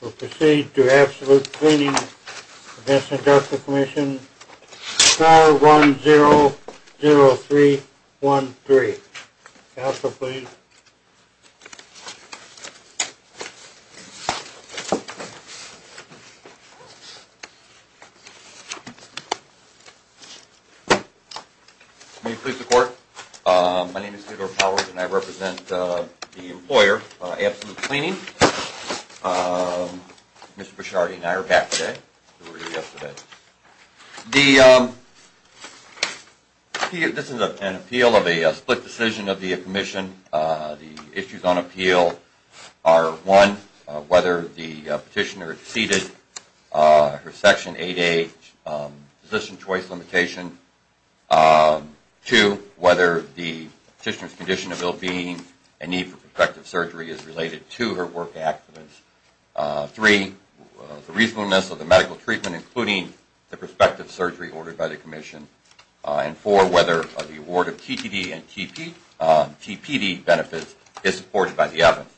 We will proceed to Absolute Cleaning against the Industrial Commission, SCAR 100313. Counsel, please. Can you please report? My name is Theodore Powers and I represent the employer, Absolute Cleaning. Mr. Bresciardi and I are back today. This is an appeal of a split decision of the commission. The issues on appeal are, one, whether the petitioner exceeded her Section 8A position choice limitation. Two, whether the petitioner's condition of ill-being and need for corrective surgery is related to her work accidents. Three, the reasonableness of the medical treatment, including the prospective surgery ordered by the commission. And four, whether the award of TPD benefits is supported by the evidence.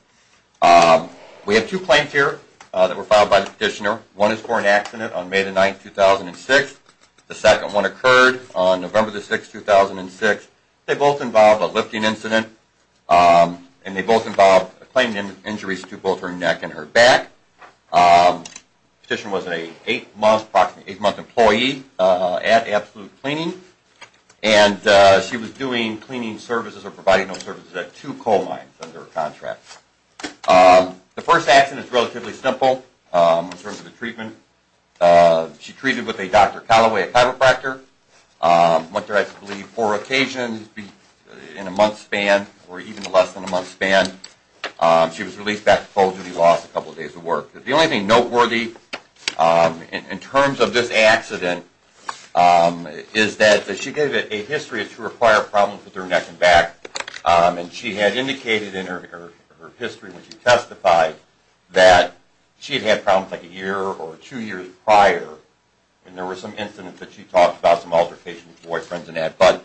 We have two claims here that were filed by the petitioner. One is for an accident on May 9, 2006. The second one occurred on November 6, 2006. They both involve a lifting incident and they both involve claiming injuries to both her neck and her back. The petitioner was an eight-month employee at Absolute Cleaning and she was doing cleaning services or providing those services at two coal mines under a contract. The first accident is relatively simple in terms of the treatment. She treated with a Dr. Callaway chiropractor. Went there, I believe, four occasions in a month's span or even less than a month's span. She was released back to Coles and she lost a couple days of work. The only thing noteworthy in terms of this accident is that she gave a history of true or prior problems with her neck and back. And she had indicated in her history when she testified that she had had problems like a year or two years prior. And there were some incidents that she talked about, some altercations with boyfriends and that. But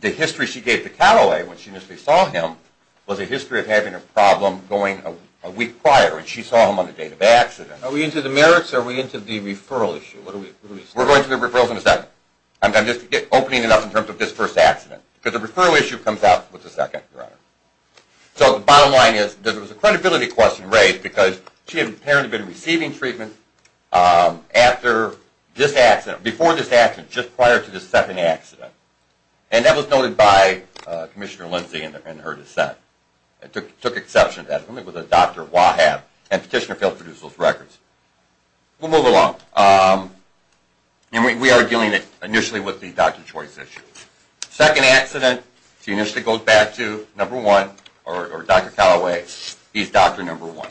the history she gave to Callaway when she initially saw him was a history of having a problem going a week prior. And she saw him on the date of the accident. Are we into the merits or are we into the referral issue? We're going to the referrals in a second. I'm just opening it up in terms of this first accident. Because the referral issue comes out with the second, Your Honor. So the bottom line is that there was a credibility question raised because she had apparently been receiving treatment after this accident, before this accident, just prior to this second accident. And that was noted by Commissioner Lindsey in her dissent. It took exception to that. It was a Dr. Wahab and Petitioner failed to produce those records. We'll move along. We are dealing initially with the doctor's choice issue. Second accident, she initially goes back to number one, or Dr. Callaway. He's doctor number one.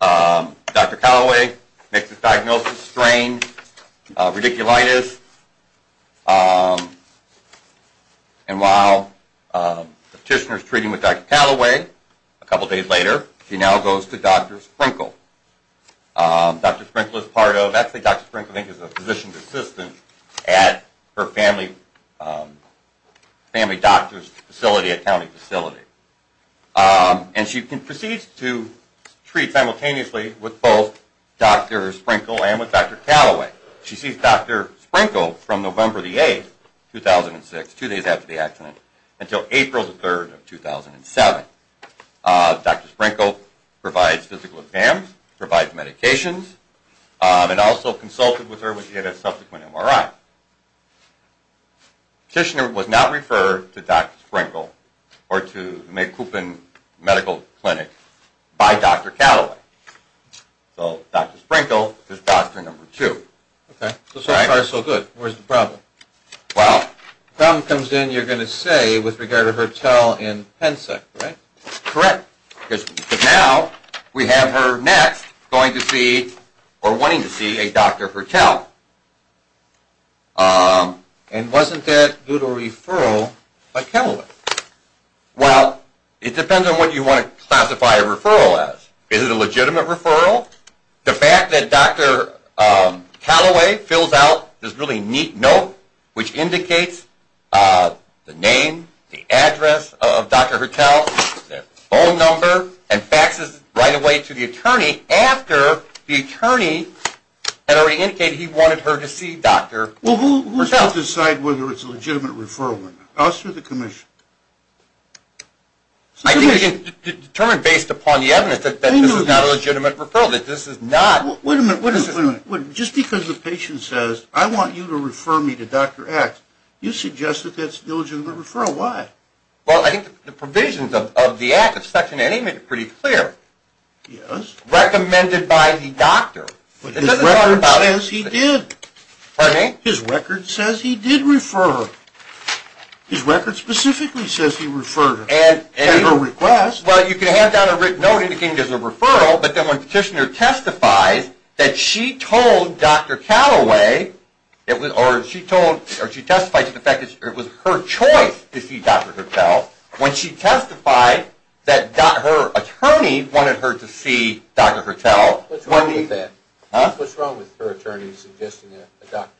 Dr. Callaway makes his diagnosis, strain, radiculitis. And while Petitioner is treating with Dr. Callaway, a couple days later, she now goes to Dr. Sprinkel. Dr. Sprinkel is part of, actually Dr. Sprinkel is a physician's assistant at her family doctor's facility, a county facility. And she proceeds to treat simultaneously with both Dr. Sprinkel and with Dr. Callaway. She sees Dr. Sprinkel from November the 8th, 2006, two days after the accident, until April the 3rd of 2007. Dr. Sprinkel provides physical exams, provides medications, and also consulted with her when she had a subsequent MRI. Petitioner was not referred to Dr. Sprinkel or to the McCoupin Medical Clinic by Dr. Callaway. So Dr. Sprinkel is doctor number two. Okay, so so far so good. Where's the problem? The problem comes in, you're going to say, with regard to her tell in Pensac, right? Correct. But now we have her next going to see, or wanting to see, a doctor for tell. And wasn't that due to a referral by Callaway? Well, it depends on what you want to classify a referral as. Is it a legitimate referral? The fact that Dr. Callaway fills out this really neat note, which indicates the name, the address of Dr. Hirtel, the phone number, and faxes right away to the attorney after the attorney had already indicated he wanted her to see Dr. Hirtel. Well, who's going to decide whether it's a legitimate referral or not? Us or the commission? I think it's determined based upon the evidence that this is not a legitimate referral, that this is not. Wait a minute, just because the patient says, I want you to refer me to Dr. X, you suggest that that's a legitimate referral. Why? Well, I think the provisions of the Act of Section N.A. make it pretty clear. Yes. Recommended by the doctor. But his record says he did. Pardon me? His record says he did refer her. His record specifically says he referred her. Well, you can have down a written note indicating there's a referral, but then when the petitioner testifies that she told Dr. Callaway, or she testified to the fact that it was her choice to see Dr. Hirtel, when she testified that her attorney wanted her to see Dr. Hirtel. What's wrong with that? Huh? What's wrong with her attorney suggesting a doctor?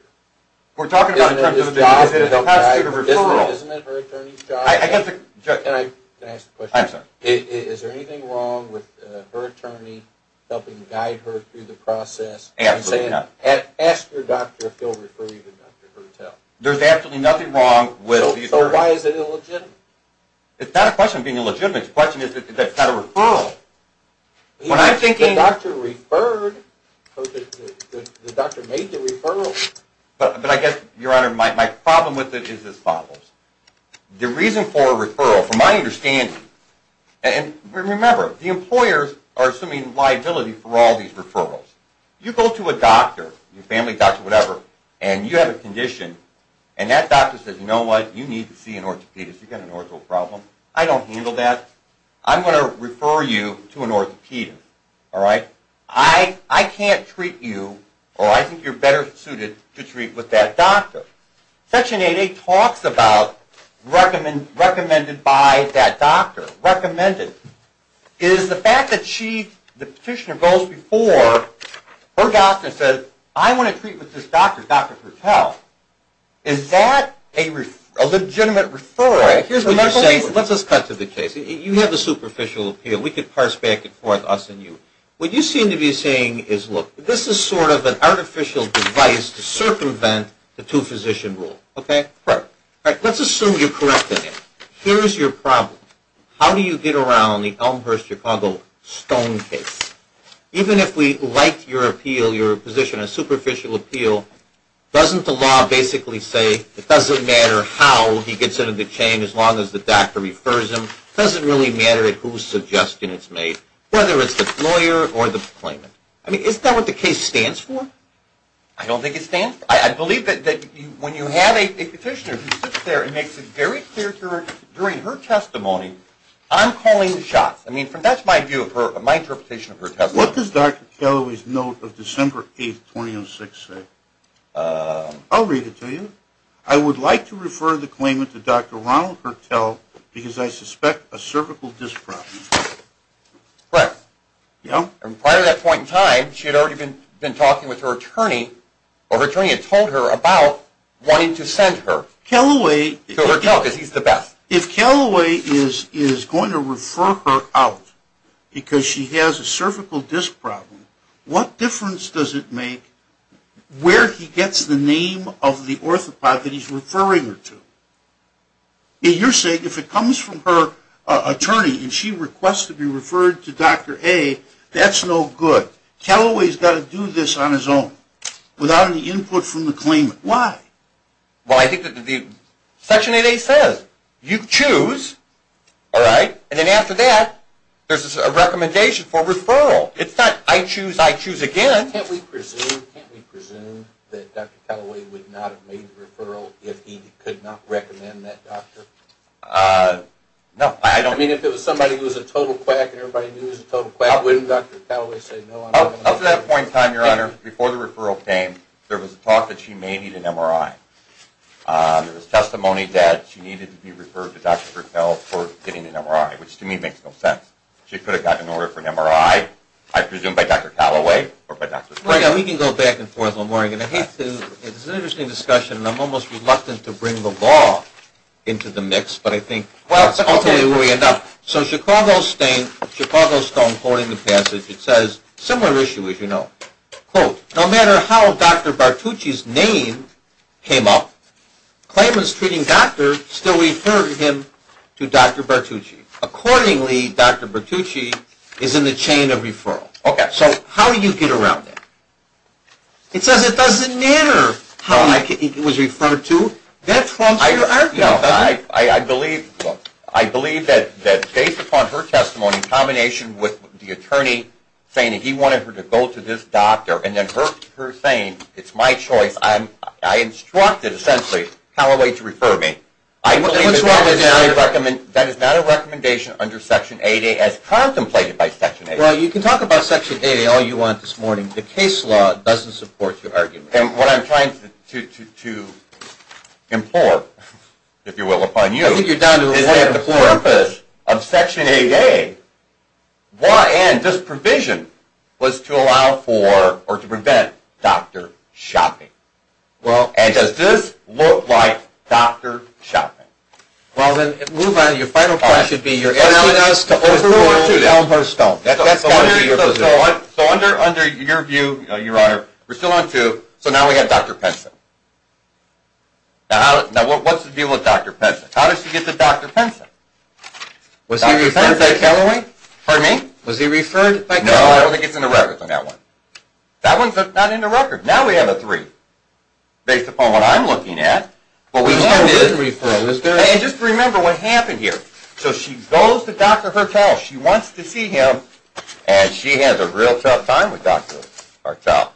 We're talking about in terms of a referral. Isn't it her attorney's job? Can I ask a question? I'm sorry. Is there anything wrong with her attorney helping guide her through the process? Absolutely not. Ask your doctor if he'll refer you to Dr. Hirtel. There's absolutely nothing wrong with the attorney. So why is it illegitimate? It's not a question of being illegitimate. The question is that it's not a referral. The doctor referred. The doctor made the referral. But I guess, Your Honor, my problem with it is as follows. The reason for a referral, from my understanding, and remember, the employers are assuming liability for all these referrals. You go to a doctor, your family doctor, whatever, and you have a condition, and that doctor says, you know what, you need to see an orthopedist. You've got an ortho problem. I don't handle that. I'm going to refer you to an orthopedist. All right? I can't treat you, or I think you're better suited to treat with that doctor. Section 8A talks about recommended by that doctor. Recommended is the fact that the petitioner goes before her doctor and says, I want to treat with this doctor, Dr. Hirtel. Is that a legitimate referral? All right. Here's what you're saying. Let's just cut to the chase. You have a superficial appeal. We could parse back and forth, us and you. What you seem to be saying is, look, this is sort of an artificial device to circumvent the two-physician rule. Okay? Correct. All right. Let's assume you're correct in it. Here's your problem. How do you get around the Elmhurst-Chicago Stone case? Even if we like your appeal, your position on superficial appeal, doesn't the law basically say it doesn't matter how he gets into the chain as long as the doctor refers him? It doesn't really matter at whose suggestion it's made, whether it's the lawyer or the claimant. I mean, isn't that what the case stands for? I don't think it stands for. I believe that when you have a petitioner who sits there and makes it very clear to her during her testimony, I'm calling the shots. I mean, that's my view of her, my interpretation of her testimony. What does Dr. Callaway's note of December 8, 2006 say? I'll read it to you. I would like to refer the claimant to Dr. Ronald Kertel because I suspect a cervical disc problem. Correct. Yeah? And prior to that point in time, she had already been talking with her attorney, or her attorney had told her about wanting to send her to her doctor because he's the best. If Callaway is going to refer her out because she has a cervical disc problem, what difference does it make where he gets the name of the orthopod that he's referring her to? You're saying if it comes from her attorney and she requests to be referred to Dr. A, that's no good. Callaway's got to do this on his own without any input from the claimant. Why? Well, I think that Section 8A says you choose, all right, and then after that there's a recommendation for referral. It's not I choose, I choose again. Can't we presume that Dr. Callaway would not have made the referral if he could not recommend that doctor? No. I mean, if it was somebody who was a total quack and everybody knew he was a total quack, wouldn't Dr. Callaway say no? Up to that point in time, Your Honor, before the referral came, there was talk that she may need an MRI. There was testimony that she needed to be referred to Dr. Gertel for getting an MRI, which to me makes no sense. She could have gotten an MRI, I presume, by Dr. Callaway or by Dr. Gertel. We can go back and forth. It's an interesting discussion, and I'm almost reluctant to bring the law into the mix. I'll tell you where we end up. So Chicago Stone quoting the passage, it says, similar issue as you know, quote, no matter how Dr. Bartucci's name came up, claimants treating doctors still referred him to Dr. Bartucci. Accordingly, Dr. Bartucci is in the chain of referral. Okay. So how do you get around that? It says it doesn't matter how he was referred to. I believe that based upon her testimony in combination with the attorney saying that he wanted her to go to this doctor and then her saying it's my choice, I instructed essentially Callaway to refer me. I believe that is not a recommendation under Section 8A as contemplated by Section 8A. Well, you can talk about Section 8A all you want this morning. The case law doesn't support your argument. And what I'm trying to implore, if you will, upon you is that the purpose of Section 8A, law and this provision, was to allow for or to prevent doctor shopping. And does this look like doctor shopping? Well, then move on. Your final point should be you're asking us to overrule Elmhurst Stone. That's got to be your position. So under your view, Your Honor, we're still on two. So now we have Dr. Penson. Now what's the deal with Dr. Penson? How does she get to Dr. Penson? Was he referred by Callaway? Pardon me? Was he referred by Callaway? No, I don't think it's in the record on that one. That one's not in the record. Now we have a three, based upon what I'm looking at. But we still did. And just remember what happened here. So she goes to Dr. Hertel. She wants to see him, and she has a real tough time with Dr. Hertel.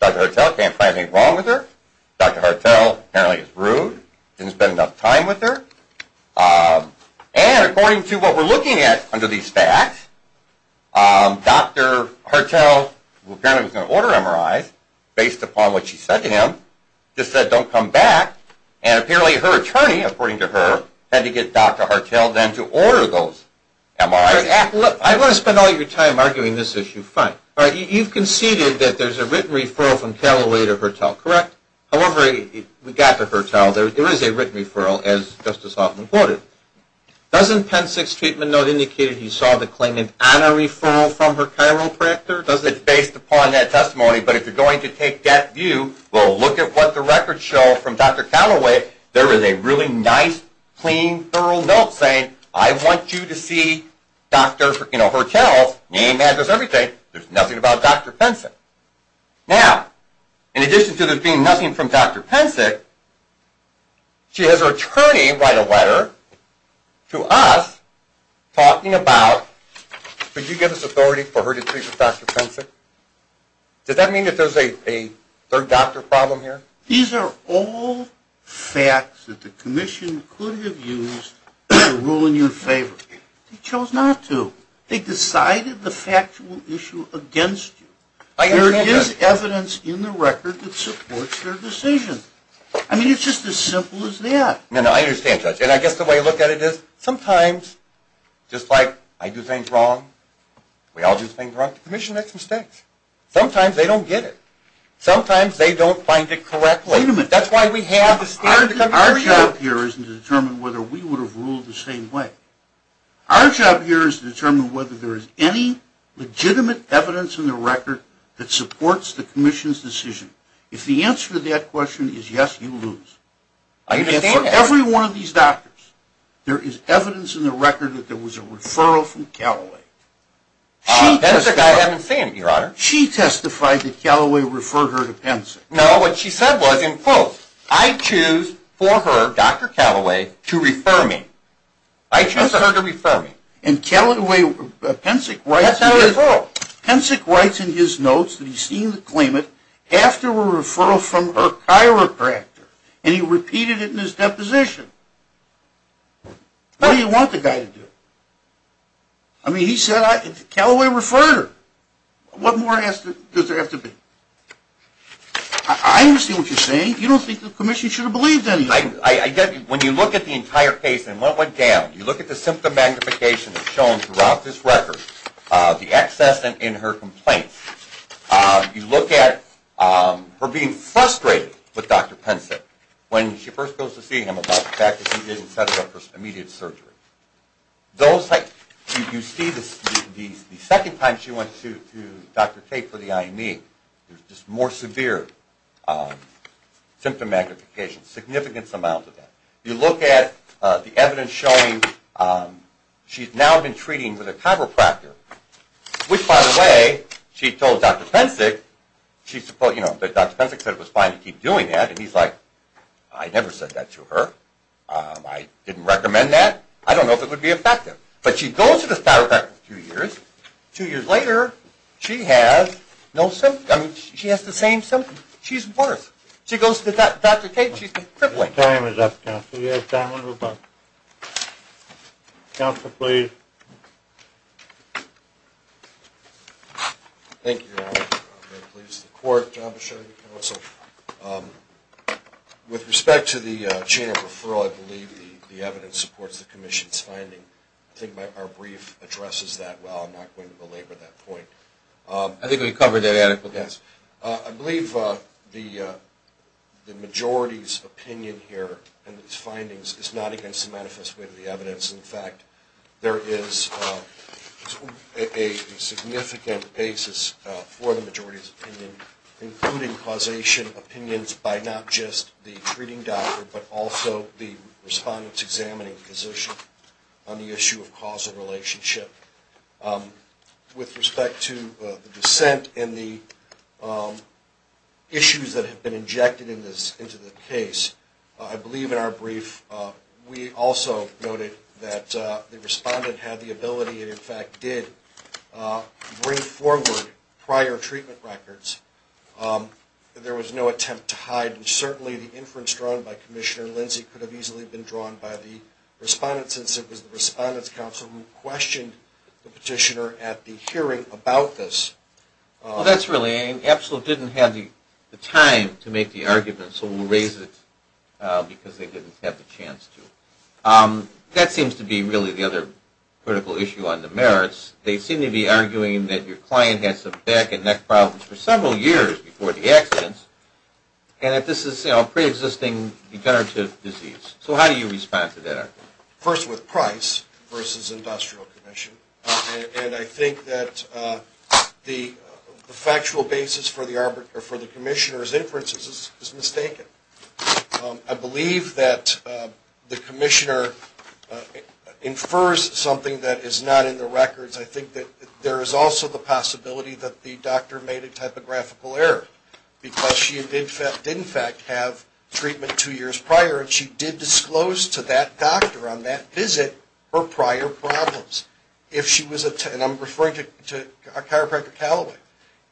Dr. Hertel can't find anything wrong with her. Dr. Hertel apparently is rude, didn't spend enough time with her. And according to what we're looking at under these facts, Dr. Hertel, who apparently was going to order MRIs, based upon what she said to him, just said don't come back. And apparently her attorney, according to her, had to get Dr. Hertel then to order those MRIs. Look, I don't want to spend all your time arguing this issue. Fine. You've conceded that there's a written referral from Callaway to Hertel, correct? However, we got to Hertel. There is a written referral, as Justice Hoffman quoted. Doesn't Pen 6 Treatment Note indicate that he saw the claimant on a referral from her chiropractor? It's based upon that testimony, but if you're going to take that view, we'll look at what the records show from Dr. Callaway. There is a really nice, clean, thorough note saying, I want you to see Dr. Hertel's name, address, everything. There's nothing about Dr. Pen 6. Now, in addition to there being nothing from Dr. Pen 6, she has her attorney write a letter to us talking about, could you give us authority for her to treat with Dr. Pen 6? Does that mean that there's a third doctor problem here? These are all facts that the commission could have used to rule in your favor. They chose not to. They decided the factual issue against you. There is evidence in the record that supports their decision. I mean, it's just as simple as that. No, no, I understand, Judge. And I guess the way I look at it is, sometimes, just like I do things wrong, we all do things wrong at the commission, that's a mistake. Sometimes they don't get it. Sometimes they don't find it correctly. Wait a minute. That's why we have the standard to come through. Our job here isn't to determine whether we would have ruled the same way. Our job here is to determine whether there is any legitimate evidence in the record that supports the commission's decision. If the answer to that question is yes, you lose. I understand that. For every one of these doctors, there is evidence in the record that there was a referral from Callaway. That's a guy I haven't seen, Your Honor. She testified that Callaway referred her to Pensick. No, what she said was, in quote, I choose for her, Dr. Callaway, to refer me. I choose her to refer me. And Pensick writes in his notes that he's seen the claimant after a referral from her chiropractor, and he repeated it in his deposition. What do you want the guy to do? I mean, he said Callaway referred her. What more does there have to be? I understand what you're saying. You don't think the commission should have believed anything. When you look at the entire case and what went down, you look at the symptom magnification that's shown throughout this record, the excess in her complaints, you look at her being frustrated with Dr. Pensick when she first goes to see him about the fact that he didn't set her up for immediate surgery. You see the second time she went to Dr. Tate for the IME, there's just more severe symptom magnification, a significant amount of that. You look at the evidence showing she's now been treating with a chiropractor, which, by the way, she told Dr. Pensick, Dr. Pensick said it was fine to keep doing that, and he's like, I never said that to her. I didn't recommend that. I don't know if it would be effective. But she goes to the chiropractor two years. Two years later, she has no symptoms. She has the same symptoms. She's worse. She goes to Dr. Tate, and she's crippling. Your time is up, counsel. You have time. We're going to move on. Counsel, please. Thank you, Your Honor. I'm very pleased. The court, job assuring counsel. With respect to the chain of referral, I believe the evidence supports the commission's finding. I think our brief addresses that well. I'm not going to belabor that point. I think we covered that adequately. Yes. I believe the majority's opinion here and its findings is not against the manifest way of the evidence. In fact, there is a significant basis for the majority's opinion, including causation opinions by not just the treating doctor, but also the respondent's examining physician on the issue of causal relationship. With respect to the dissent and the issues that have been injected into the case, I believe in our brief we also noted that the respondent had the ability and, in fact, did bring forward prior treatment records. There was no attempt to hide, and certainly the inference drawn by Commissioner Lindsey could have easily been drawn by the respondent, since it was the respondent's counsel who questioned the petitioner at the hearing about this. Well, that's really it. ABSLU didn't have the time to make the argument, so we'll raise it because they didn't have the chance to. That seems to be really the other critical issue on the merits. They seem to be arguing that your client had some back and neck problems for several years before the accident, and that this is a preexisting degenerative disease. So how do you respond to that argument? First with price versus industrial commission, and I think that the factual basis for the commissioner's inferences is mistaken. I believe that the commissioner infers something that is not in the records. I think that there is also the possibility that the doctor made a typographical error, because she did, in fact, have treatment two years prior, and she did disclose to that doctor on that visit her prior problems. And I'm referring to Chiropractor Callaway.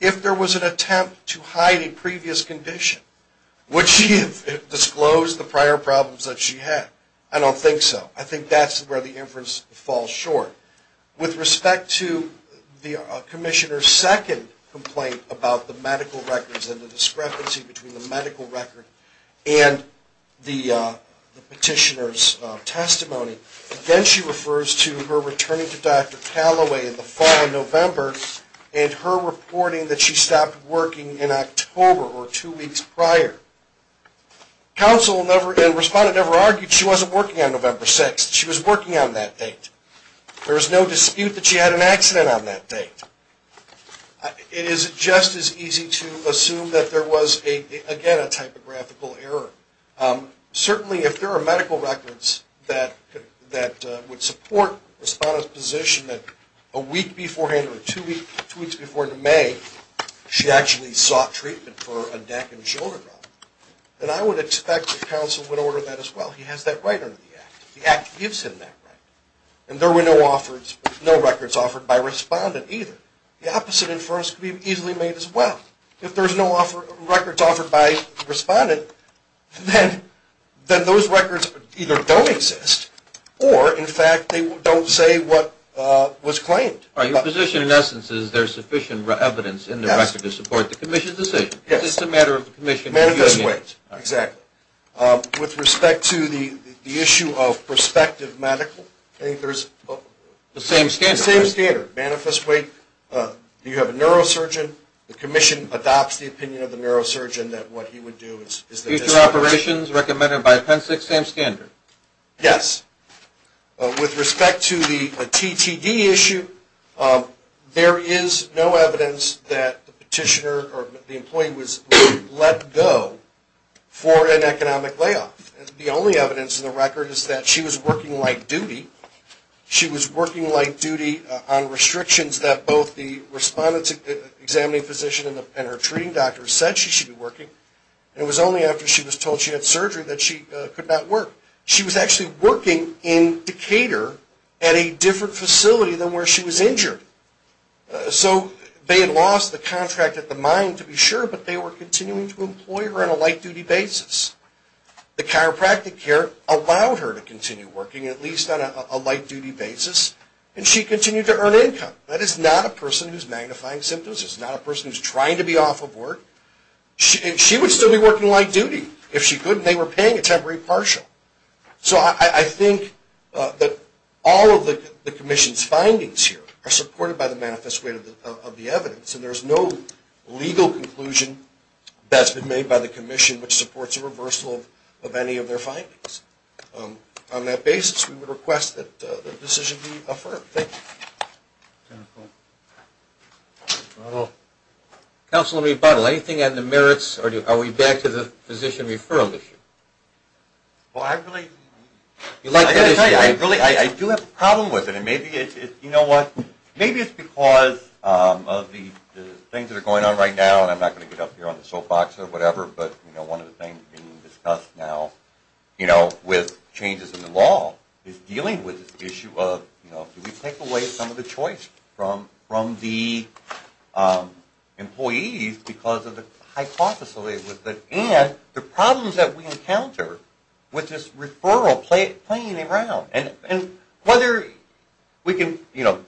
If there was an attempt to hide a previous condition, would she have disclosed the prior problems that she had? I don't think so. I think that's where the inference falls short. With respect to the commissioner's second complaint about the medical records and the discrepancy between the medical record and the petitioner's testimony, again she refers to her returning to Dr. Callaway in the fall of November and her reporting that she stopped working in October or two weeks prior. Counsel and respondent never argued she wasn't working on November 6th. She was working on that date. There is no dispute that she had an accident on that date. It is just as easy to assume that there was, again, a typographical error. Certainly if there are medical records that would support a respondent's position that a week beforehand or two weeks before in May she actually sought treatment for a neck and shoulder problem, then I would expect that counsel would order that as well. He has that right under the Act. The Act gives him that right. And there were no records offered by respondent either. The opposite inference could be easily made as well. If there's no records offered by respondent, then those records either don't exist or, in fact, they don't say what was claimed. Your position, in essence, is there sufficient evidence in the record to support the commission's decision. Yes. It's just a matter of the commission. More or less. Exactly. With respect to the issue of prospective medical, I think there's... The same standard. The same standard. Manifest weight. Do you have a neurosurgeon? The commission adopts the opinion of the neurosurgeon that what he would do is... Future operations recommended by Appensix, same standard. Yes. With respect to the TTD issue, there is no evidence that the petitioner or the employee was let go for an economic layoff. The only evidence in the record is that she was working light duty. She was working light duty on restrictions that both the respondent's examining physician and her treating doctor said she should be working. It was only after she was told she had surgery that she could not work. She was actually working in Decatur at a different facility than where she was injured. So they had lost the contract at the mine, to be sure, but they were continuing to employ her on a light-duty basis. The chiropractic care allowed her to continue working at least on a light-duty basis, and she continued to earn income. That is not a person who's magnifying symptoms. It's not a person who's trying to be off of work. And she would still be working light duty if she could, and they were paying a temporary partial. So I think that all of the commission's findings here are supported by the manifest weight of the evidence, and there's no legal conclusion that's been made by the commission which supports a reversal of any of their findings. On that basis, we would request that the decision be affirmed. Thank you. Counselor, anything on the merits? Are we back to the physician referral issue? I do have a problem with it, and maybe it's because of the things that are going on right now, and I'm not going to get up here on the soapbox or whatever, but one of the things being discussed now with changes in the law is dealing with this issue of, do we take away some of the choice from the employees because of the hypothesis, and the problems that we encounter with this referral playing around. And whether we can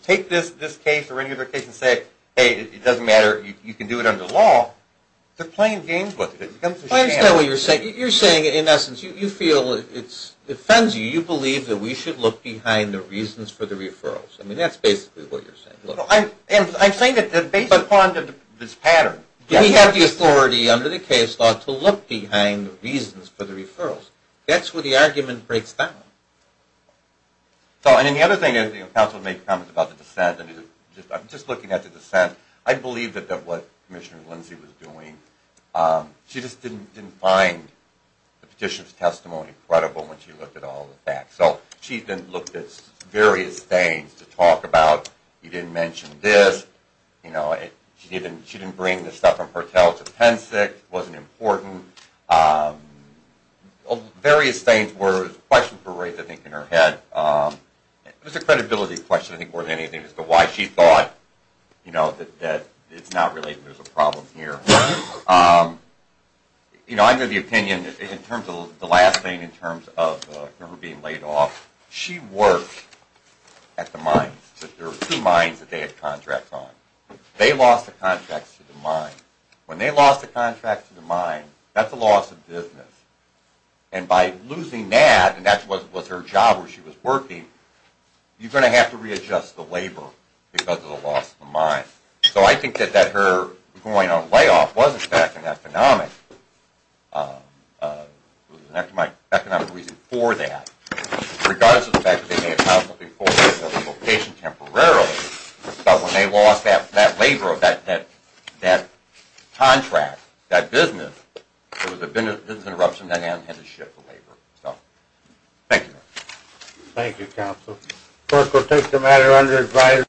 take this case or any other case and say, hey, it doesn't matter, you can do it under the law, they're playing games with it. I understand what you're saying. You're saying, in essence, you feel it offends you. You believe that we should look behind the reasons for the referrals. I mean, that's basically what you're saying. I'm saying that based upon this pattern. We have the authority under the case law to look behind the reasons for the referrals. That's where the argument breaks down. And the other thing is, the counsel made comments about the dissent. I'm just looking at the dissent. I believe that what Commissioner Lindsey was doing, she just didn't find the petitioner's testimony credible when she looked at all the facts. So she then looked at various things to talk about. You didn't mention this. She didn't bring the stuff from Hertel to Penn State. It wasn't important. Various things were raised, I think, in her head. It was a credibility question, I think, more than anything, as to why she thought that it's not related and there's a problem here. I know the opinion in terms of the last thing, in terms of her being laid off. She worked at the mines. There were two mines that they had contracts on. They lost the contracts to the mines. When they lost the contracts to the mines, that's a loss of business. And by losing that, and that was her job where she was working, you're going to have to readjust the labor because of the loss of the mines. So I think that her going on layoff was, in fact, an economic reason for that, regardless of the fact that they may have filed something for a relocation temporarily. But when they lost that labor of that contract, that business, there was a business interruption and they had to shift the labor. Thank you. Thank you, Counsel.